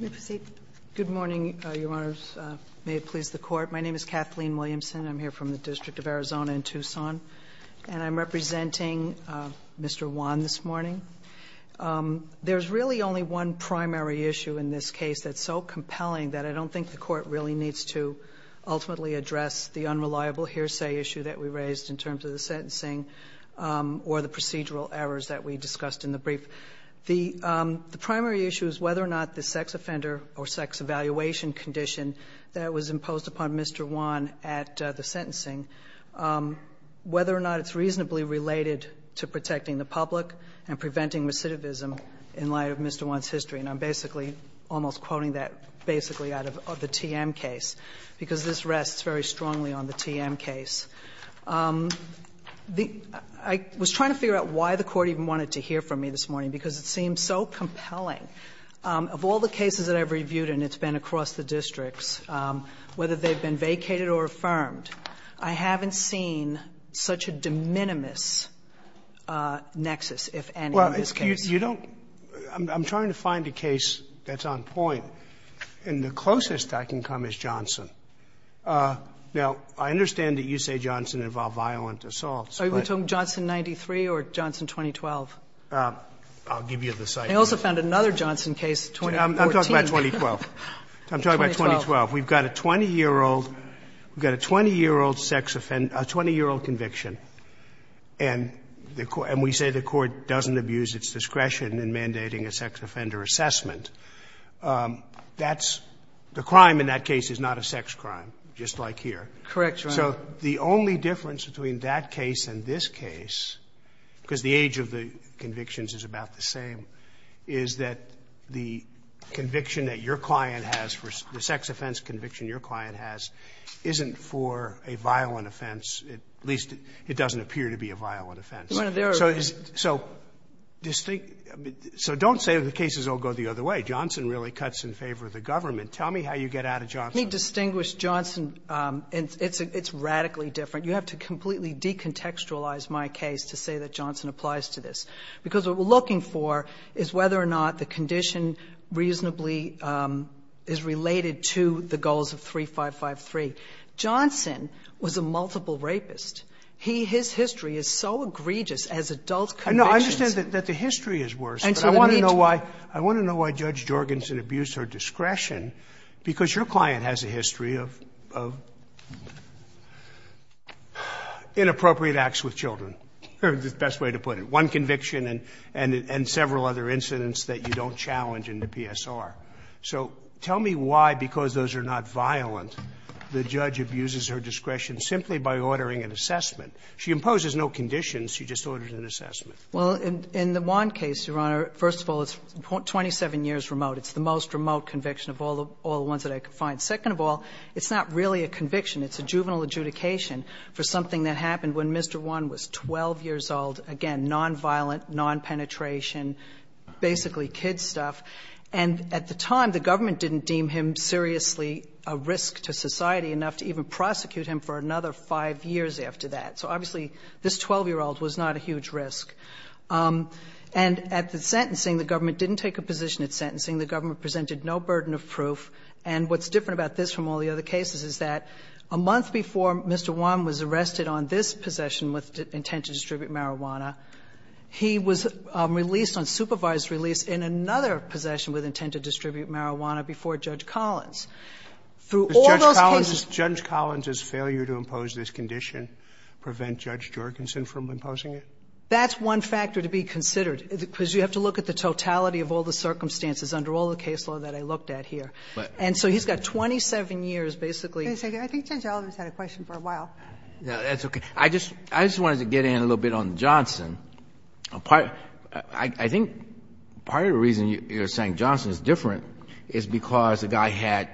May it please the Court, my name is Kathleen Williamson, and I'm here from the District of Arizona in Tucson, and I'm representing Mr. Juan this morning. There's really only one primary issue in this case that's so compelling that I don't think the Court really needs to ultimately address the unreliable hearsay issue that we raised in terms of the sentencing or the procedural errors that we discussed in the brief. The primary issue is whether or not the sex offender or sex evaluation condition that was imposed upon Mr. Juan at the sentencing, whether or not it's reasonably related to protecting the public and preventing recidivism in light of Mr. Juan's history. And I'm basically almost quoting that basically out of the TM case, because this rests very strongly on the TM case. I was trying to figure out why the Court even wanted to hear from me this morning, because it seems so compelling. Of all the cases that I've reviewed, and it's been across the districts, whether they've been vacated or affirmed, I haven't seen such a de minimis nexus, if any, in this case. Scalia, I'm trying to find a case that's on point, and the closest I can come is Johnson. Now, I understand that you say Johnson involved violent assaults, but you're talking about Johnson 93 or Johnson 2012. I'll give you the site. I also found another Johnson case, 2014. I'm talking about 2012. I'm talking about 2012. We've got a 20-year-old sex offender, a 20-year-old conviction, and we say the Court doesn't abuse its discretion in mandating a sex offender assessment. That's the crime in that case is not a sex crime, just like here. Correct, Your Honor. So the only difference between that case and this case, because the age of the convictions is about the same, is that the conviction that your client has for the sex offense conviction your client has isn't for a violent offense, at least it doesn't appear to be a violent offense. So don't say the cases all go the other way. Johnson really cuts in favor of the government. Tell me how you get out of Johnson. Let me distinguish Johnson. It's radically different. You have to completely decontextualize my case to say that Johnson applies to this, because what we're looking for is whether or not the condition reasonably is related to the goals of 3553. Johnson was a multiple rapist. He, his history is so egregious as adult convictions. I understand that the history is worse, but I want to know why Judge Jorgensen abused her discretion, because your client has a history of inappropriate acts with children, is the best way to put it, one conviction and several other incidents that you don't challenge in the PSR. So tell me why, because those are not violent, the judge abuses her discretion simply by ordering an assessment. She imposes no conditions. She just orders an assessment. Well, in the Wann case, Your Honor, first of all, it's 27 years remote. It's the most remote conviction of all the ones that I could find. Second of all, it's not really a conviction. It's a juvenile adjudication for something that happened when Mr. Wann was 12 years old, again, nonviolent, nonpenetration, basically kid stuff, and at the time, the government didn't deem him seriously a risk to society enough to even prosecute him for another 5 years after that. So obviously, this 12-year-old was not a huge risk. And at the sentencing, the government didn't take a position at sentencing. The government presented no burden of proof. And what's different about this from all the other cases is that a month before Mr. Wann was arrested on this possession with intent to distribute marijuana, he was released on supervised release in another possession with intent to distribute Through all those cases he was released in another possession with intent to distribute marijuana. So what's the difference? Is it easier to impose this condition, prevent Judge Jorgensen from imposing it? That's one factor to be considered, because you have to look at the totality of all the circumstances under all the case law that I looked at here. And so he's got 27 years basically. Wait a second. I think Judge Ellen has had a question for a while. That's okay. I just wanted to get in a little bit on Johnson. I think part of the reason you're saying Johnson is different is because the guy had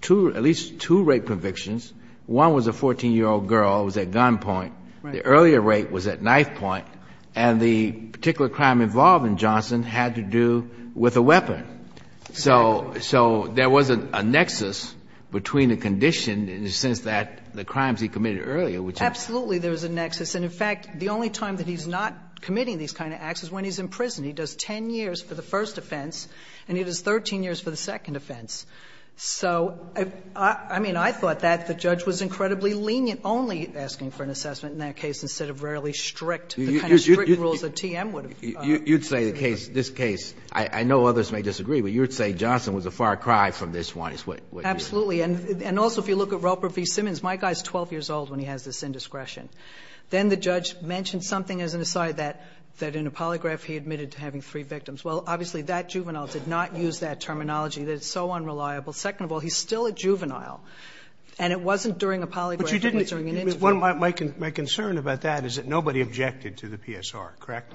two, at least two, rape convictions. One was a 14-year-old girl who was at gunpoint. The earlier rape was at knife point. And the particular crime involved in Johnson had to do with a weapon. So there wasn't a nexus between the condition in the sense that the crimes he committed earlier, which is Absolutely there was a nexus. And in fact, the only time that he's not committing these kind of acts is when he's in prison. He does 10 years for the first offense, and he does 13 years for the second offense. So I mean, I thought that the judge was incredibly lenient only asking for an assessment in that case, instead of rarely strict, the kind of strict rules that TM would have You'd say the case, this case, I know others may disagree, but you would say Johnson was a far cry from this one is what you're saying. Absolutely. And also if you look at Roper v. Simmons, my guy is 12 years old when he has this indiscretion. Then the judge mentioned something as an aside that, that in a polygraph he admitted to having three victims. Well, obviously that juvenile did not use that terminology, that it's so unreliable. Second of all, he's still a juvenile, and it wasn't during a polygraph, it was during an interview. But you didn't, my concern about that is that nobody objected to the PSR, correct?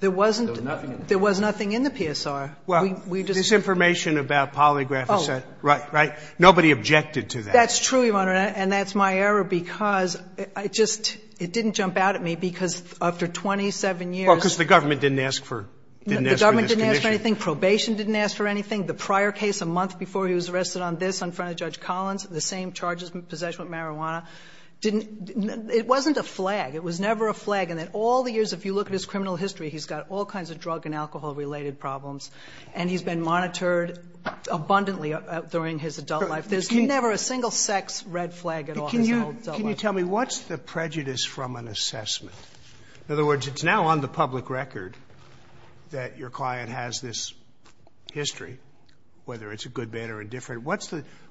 There wasn't, there was nothing in the PSR. Well, this information about polygraph is set, right, right. Nobody objected to that. That's true, Your Honor, and that's my error, because I just, it didn't jump out at me, because after 27 years. Well, because the government didn't ask for, didn't ask for this condition. The government didn't ask for anything, probation didn't ask for anything. The prior case, a month before he was arrested on this in front of Judge Collins, the same charges, possession of marijuana, didn't, it wasn't a flag. It was never a flag, and that all the years, if you look at his criminal history, he's got all kinds of drug and alcohol-related problems, and he's been monitored abundantly during his adult life. There's never a single sex red flag at all in his adult life. Can you tell me what's the prejudice from an assessment? In other words, it's now on the public record that your client has this history, whether it's a good, bad or indifferent.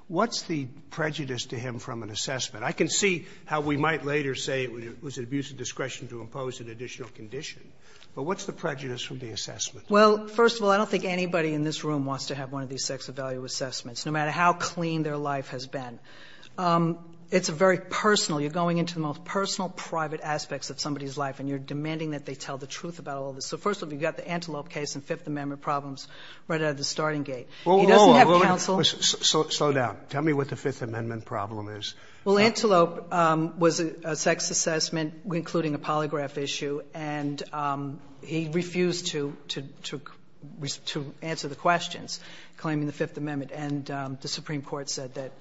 What's the prejudice to him from an assessment? I can see how we might later say it was an abuse of discretion to impose an additional condition, but what's the prejudice from the assessment? Well, first of all, I don't think anybody in this room wants to have one of these kinds of sex of value assessments, no matter how clean their life has been. It's a very personal. You're going into the most personal, private aspects of somebody's life, and you're demanding that they tell the truth about all this. So first of all, you've got the Antelope case and Fifth Amendment problems right out of the starting gate. He doesn't have counsel. Sotomayor, slow down. Tell me what the Fifth Amendment problem is. Well, Antelope was a sex assessment, including a polygraph issue, and he refused to answer the questions, claiming the Fifth Amendment. And the Supreme Court said that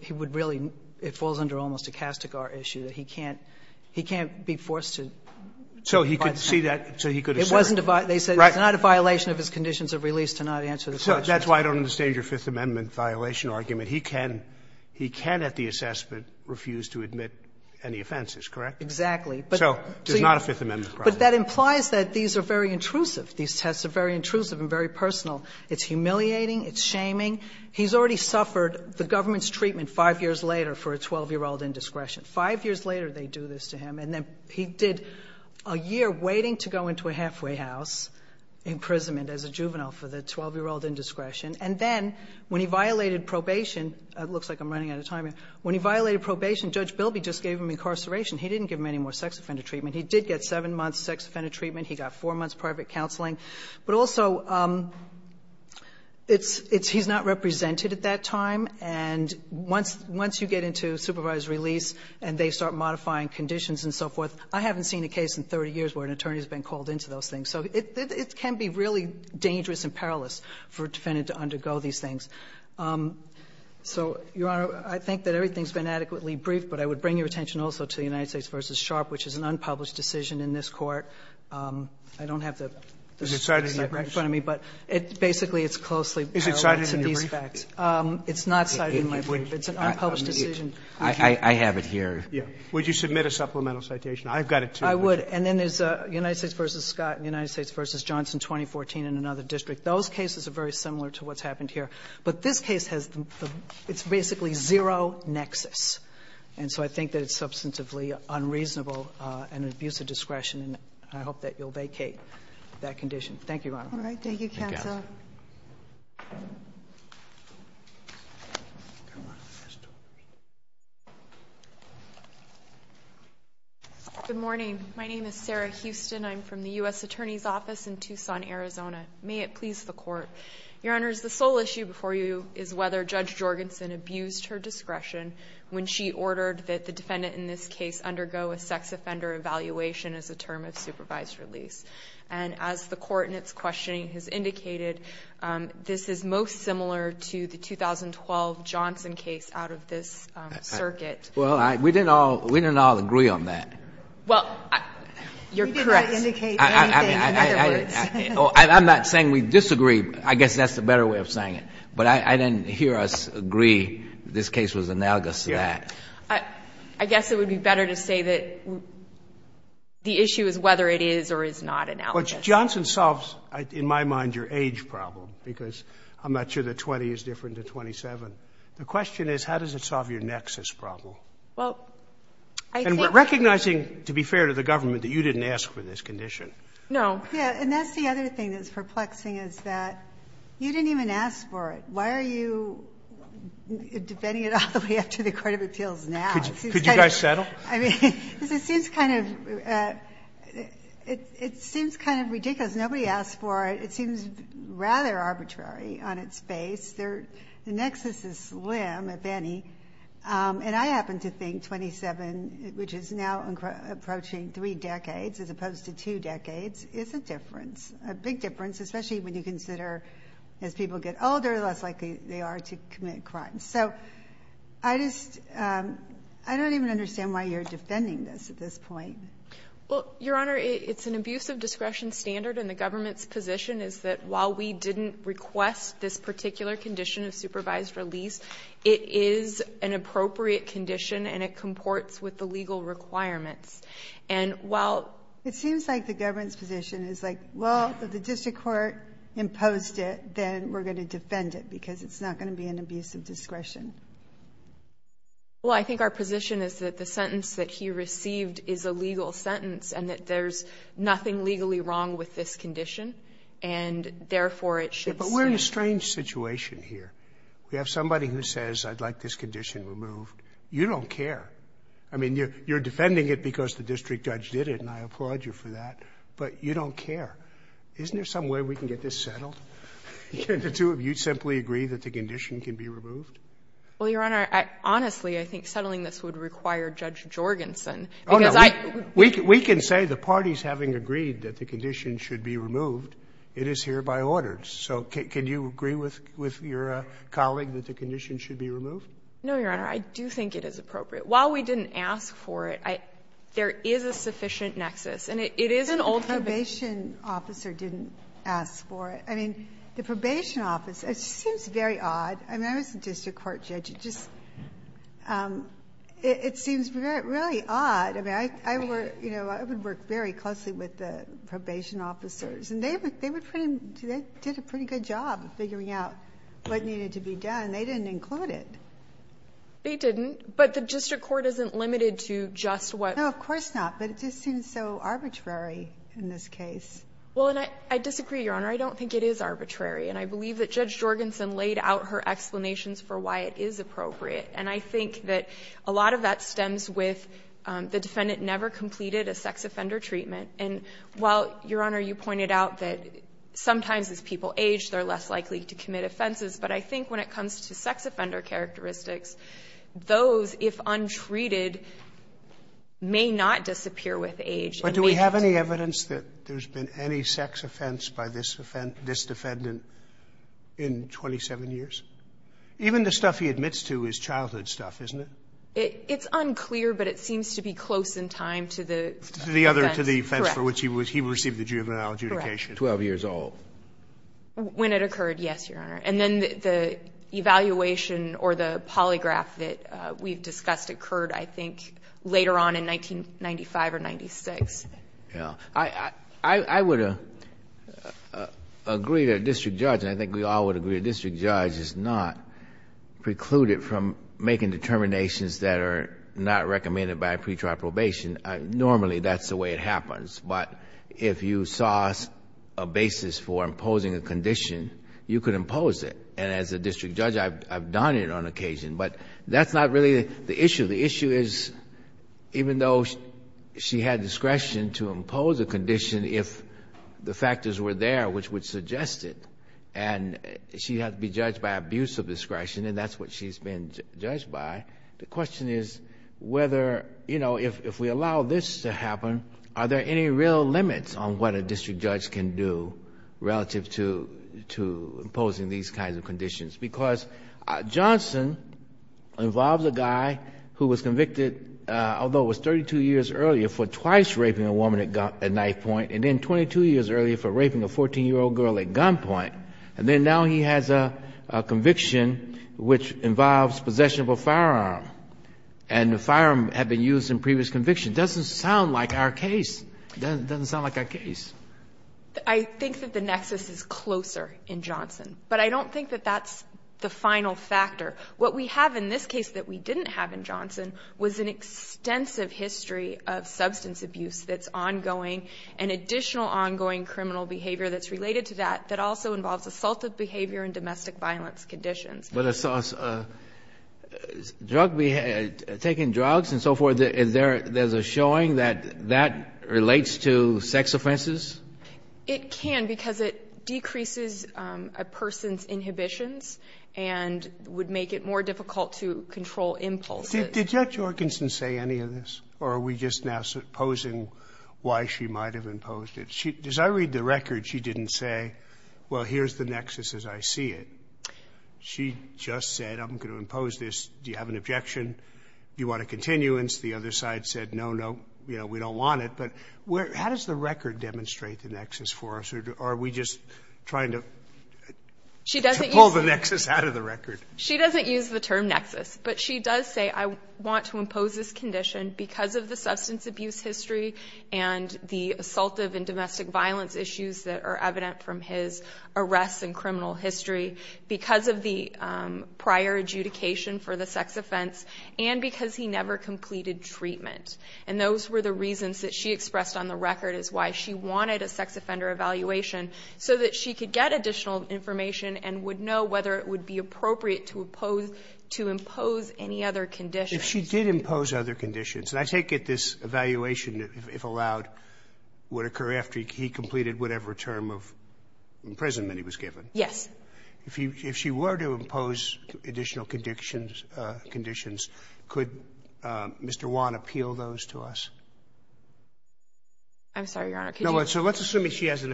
he would really, it falls under almost a Castigar issue, that he can't be forced to. So he could see that, so he could assert. It wasn't a violation. They said it's not a violation of his conditions of release to not answer the questions. So that's why I don't understand your Fifth Amendment violation argument. He can, he can at the assessment refuse to admit any offenses, correct? Exactly. So it's not a Fifth Amendment problem. But that implies that these are very intrusive. These tests are very intrusive and very personal. It's humiliating. It's shaming. He's already suffered the government's treatment five years later for a 12-year-old indiscretion. Five years later, they do this to him. And then he did a year waiting to go into a halfway house imprisonment as a juvenile for the 12-year-old indiscretion. And then when he violated probation, it looks like I'm running out of time here. When he violated probation, Judge Bilby just gave him incarceration. He didn't give him any more sex offender treatment. I mean, he did get seven months' sex offender treatment. He got four months' private counseling. But also, it's he's not represented at that time. And once you get into supervised release and they start modifying conditions and so forth, I haven't seen a case in 30 years where an attorney has been called into those things. So it can be really dangerous and perilous for a defendant to undergo these things. So, Your Honor, I think that everything's been adequately briefed, but I would bring your attention also to the United States v. Sharpe, which is an unpublished decision in this Court. I don't have the citation right in front of me, but basically it's closely parallel to these facts. It's not cited in my brief. It's an unpublished decision. Robertson, I have it here. Scalia, would you submit a supplemental citation? I've got it, too. I would. And then there's United States v. Scott and United States v. Johnson, 2014, in another district. Those cases are very similar to what's happened here. But this case has the – it's basically zero nexus. And so I think that it's substantively unreasonable and an abuse of discretion. And I hope that you'll vacate that condition. Thank you, Your Honor. Thank you, counsel. Good morning. My name is Sarah Houston. I'm from the U.S. Attorney's Office in Tucson, Arizona. May it please the Court. Your Honors, the sole issue before you is whether Judge Jorgensen abused her discretion when she ordered that the defendant in this case undergo a sex offender evaluation as a term of supervised release. And as the Court in its questioning has indicated, this is most similar to the 2012 Johnson case out of this circuit. Well, we didn't all agree on that. Well, you're correct. We didn't indicate anything in other words. I'm not saying we disagree. I guess that's the better way of saying it. But I didn't hear us agree this case was analogous to that. I guess it would be better to say that the issue is whether it is or is not analogous. Well, Johnson solves, in my mind, your age problem, because I'm not sure that 20 is different than 27. The question is how does it solve your nexus problem? Well, I think— And recognizing, to be fair to the government, that you didn't ask for this condition. No. And that's the other thing that's perplexing, is that you didn't even ask for it. Why are you defending it all the way up to the court of appeals now? Could you guys settle? I mean, it seems kind of ridiculous. Nobody asked for it. It seems rather arbitrary on its face. The nexus is slim, if any. And I happen to think 27, which is now approaching three decades as opposed to two decades, is a difference, a big difference, especially when you consider as people get older, less likely they are to commit crimes. So I just—I don't even understand why you're defending this at this point. Well, Your Honor, it's an abuse of discretion standard, and the government's position is that while we didn't request this particular condition of supervised release, it is an appropriate condition, and it comports with the legal requirements. And while— It seems like the government's position is like, well, if the district court imposed it, then we're going to defend it because it's not going to be an abuse of discretion. Well, I think our position is that the sentence that he received is a legal sentence and that there's nothing legally wrong with this condition, and therefore, it should stay. But we're in a strange situation here. We have somebody who says, I'd like this condition removed. You don't care. I mean, you're defending it because the district judge did it, and I applaud you for that, but you don't care. Isn't there some way we can get this settled? Can the two of you simply agree that the condition can be removed? Well, Your Honor, honestly, I think settling this would require Judge Jorgensen, because I— Oh, no. We can say the parties having agreed that the condition should be removed, it is hereby ordered. So can you agree with your colleague that the condition should be removed? No, Your Honor. I do think it is appropriate. While we didn't ask for it, there is a sufficient nexus, and it is an old— But the probation officer didn't ask for it. I mean, the probation officer, it just seems very odd. I mean, I was a district court judge. It just seems really odd. I mean, I would work very closely with the probation officers, and they did a pretty good job of figuring out what needed to be done. They didn't include it. They didn't. But the district court isn't limited to just what— No, of course not. But it just seems so arbitrary in this case. Well, and I disagree, Your Honor. I don't think it is arbitrary. And I believe that Judge Jorgensen laid out her explanations for why it is appropriate. And I think that a lot of that stems with the defendant never completed a sex offender treatment. And while, Your Honor, you pointed out that sometimes as people age, they're less likely to commit offenses. But I think when it comes to sex offender characteristics, those, if untreated, may not disappear with age. But do we have any evidence that there's been any sex offense by this defendant in 27 years? Even the stuff he admits to is childhood stuff, isn't it? It's unclear, but it seems to be close in time to the— To the offense for which he received the juvenile adjudication. 12 years old. When it occurred, yes, Your Honor. And then the evaluation or the polygraph that we've discussed occurred, I think, later on in 1995 or 1996. I would agree that a district judge, and I think we all would agree that a district judge is not precluded from making determinations that are not recommended by a pre-trial probation. Normally, that's the way it happens. But if you saw a basis for imposing a condition, you could impose it. And as a district judge, I've done it on occasion. But that's not really the issue. The issue is, even though she had discretion to impose a condition if the factors were there, which would suggest it, and she had to be judged by abuse of discretion, and that's what she's been judged by, the question is whether, you know, if we allow this to happen, are there any real limits on what a district judge can do relative to imposing these kinds of conditions? Because Johnson involves a guy who was convicted, although it was 32 years earlier, for twice raping a woman at knife point, and then 22 years earlier for raping a 14-year-old girl at gunpoint. And then now he has a conviction which involves possession of a firearm. And the firearm had been used in previous convictions. It doesn't sound like our case. It doesn't sound like our case. I think that the nexus is closer in Johnson. But I don't think that that's the final factor. What we have in this case that we didn't have in Johnson was an extensive history of substance abuse that's ongoing, and additional ongoing criminal behavior that's related to that, that also involves assaultive behavior and domestic violence conditions. But assaults, drug, taking drugs and so forth, is there, there's a showing that that relates to sex offenses? It can because it decreases a person's inhibitions and would make it more difficult to control impulses. Did Judge Jorgensen say any of this? Or are we just now supposing why she might have imposed it? She, as I read the record, she didn't say, well, here's the nexus as I see it. She just said, I'm going to impose this. Do you have an objection? Do you want a continuance? The other side said, no, no, we don't want it. But how does the record demonstrate the nexus for us? Or are we just trying to pull the nexus out of the record? She doesn't use the term nexus. But she does say, I want to impose this condition because of the substance abuse history and the assaultive and domestic violence issues that are evident from his arrests and because of the prior adjudication for the sex offense and because he never completed treatment. And those were the reasons that she expressed on the record is why she wanted a sex offender evaluation so that she could get additional information and would know whether it would be appropriate to impose any other conditions. If she did impose other conditions, and I take it this evaluation, if allowed, would occur after he completed whatever term of imprisonment he was given? Yes. If she were to impose additional conditions, could Mr. Wan appeal those to us? I'm sorry, Your Honor, could you do that? So let's assume that she has an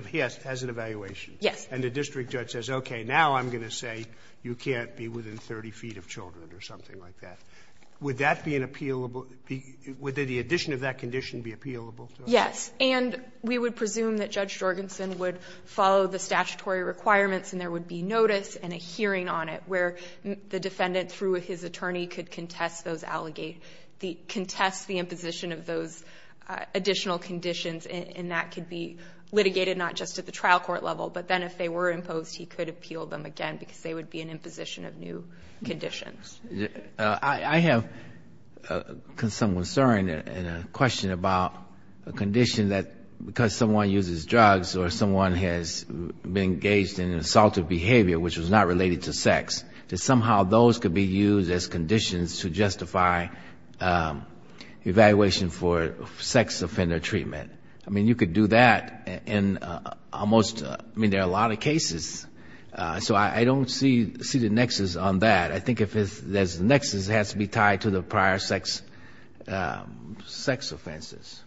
evaluation. Yes. And the district judge says, okay, now I'm going to say you can't be within 30 feet of children or something like that. Would that be an appealable be – would the addition of that condition be appealable to us? Yes. And we would presume that Judge Jorgensen would follow the statutory requirements and there would be notice and a hearing on it where the defendant, through his attorney, could contest those allegations – contest the imposition of those additional conditions and that could be litigated not just at the trial court level, but then if they were imposed, he could appeal them again because they would be an imposition of new conditions. I have some concern and a question about a condition that because someone uses drugs or someone has been engaged in an assaulted behavior which was not related to sex, that somehow those could be used as conditions to justify evaluation for sex offender treatment. I mean, you could do that in almost – I mean, there are a lot of cases. So I don't see the nexus on that. I think if there's a nexus, it has to be tied to the prior sex offenses.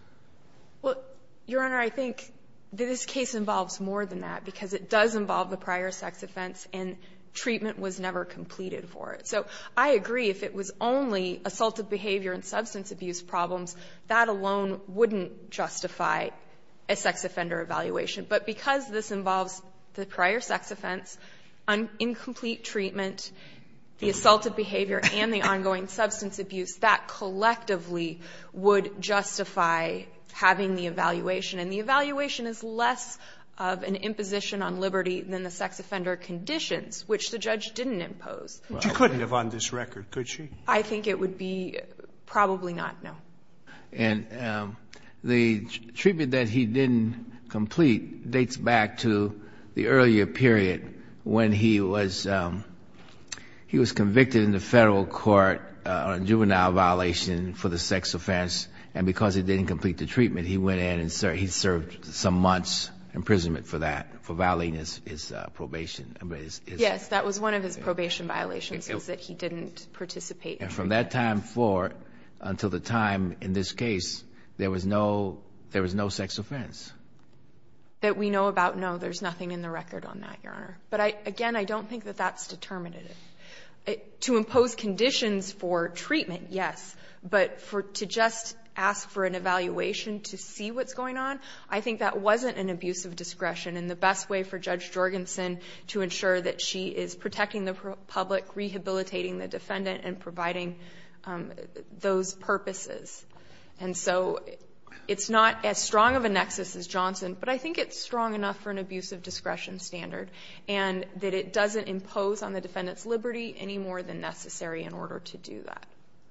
Well, Your Honor, I think that this case involves more than that because it does involve the prior sex offense and treatment was never completed for it. So I agree if it was only assaulted behavior and substance abuse problems, that alone wouldn't justify a sex offender evaluation. But because this involves the prior sex offense, incomplete treatment, the assaulted by having the evaluation, and the evaluation is less of an imposition on liberty than the sex offender conditions, which the judge didn't impose. But you couldn't have on this record, could she? I think it would be probably not, no. And the treatment that he didn't complete dates back to the earlier period when he was convicted in the federal court on juvenile violation for the sex offense and because it didn't complete the treatment, he went in and he served some months imprisonment for that, for violating his probation. Yes, that was one of his probation violations, was that he didn't participate. And from that time forward until the time in this case, there was no – there was no sex offense? That we know about, no, there's nothing in the record on that, Your Honor. But again, I don't think that that's determinative. To impose conditions for treatment, yes, but to just ask for an evaluation to see what's going on, I think that wasn't an abuse of discretion and the best way for Judge Jorgensen to ensure that she is protecting the public, rehabilitating the defendant, and providing those purposes. And so it's not as strong of a nexus as Johnson, but I think it's strong enough for an abuse of discretion standard and that it doesn't impose on the defendant's liberty any more than necessary in order to do that.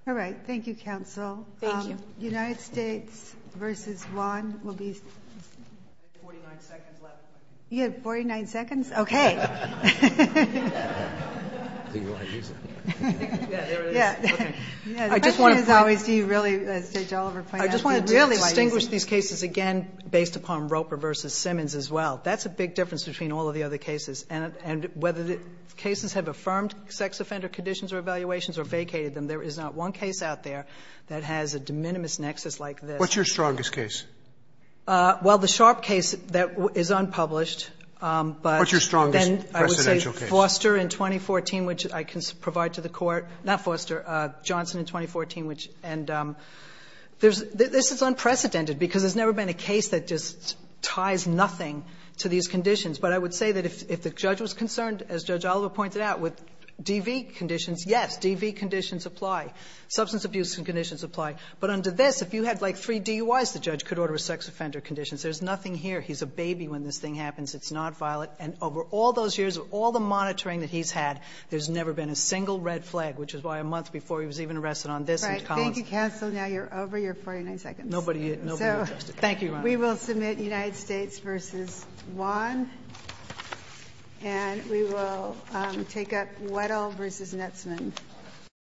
All right. Thank you, counsel. Thank you. The United States v. Juan will be – You have 49 seconds left. You have 49 seconds? Okay. I think you might use it. Yeah, there it is. Okay. Yeah, the question is always do you really, as Judge Oliver pointed out, do you really like using it? I just wanted to distinguish these cases again based upon Roper v. Simmons as well. That's a big difference between all of the other cases, and whether the cases have affirmed sex offender conditions or evaluations or vacated them, there is not one case out there that has a de minimis nexus like this. What's your strongest case? Well, the Sharpe case that is unpublished, but then I would say Foster in 2014, which I can provide to the Court, not Foster, Johnson in 2014, which – and there's – this is unprecedented because there's never been a case that just ties nothing to these conditions. But I would say that if the judge was concerned, as Judge Oliver pointed out, with DV conditions, yes, DV conditions apply. Substance abuse conditions apply. But under this, if you had, like, three DUIs, the judge could order a sex offender condition. There's nothing here. He's a baby when this thing happens. It's not violent. And over all those years, all the monitoring that he's had, there's never been a single red flag, which is why a month before he was even arrested on this and Collins. All right. Nobody is interested. Thank you, Your Honor. We will submit United States v. Wan, and we will take up Wedel v. Netzman.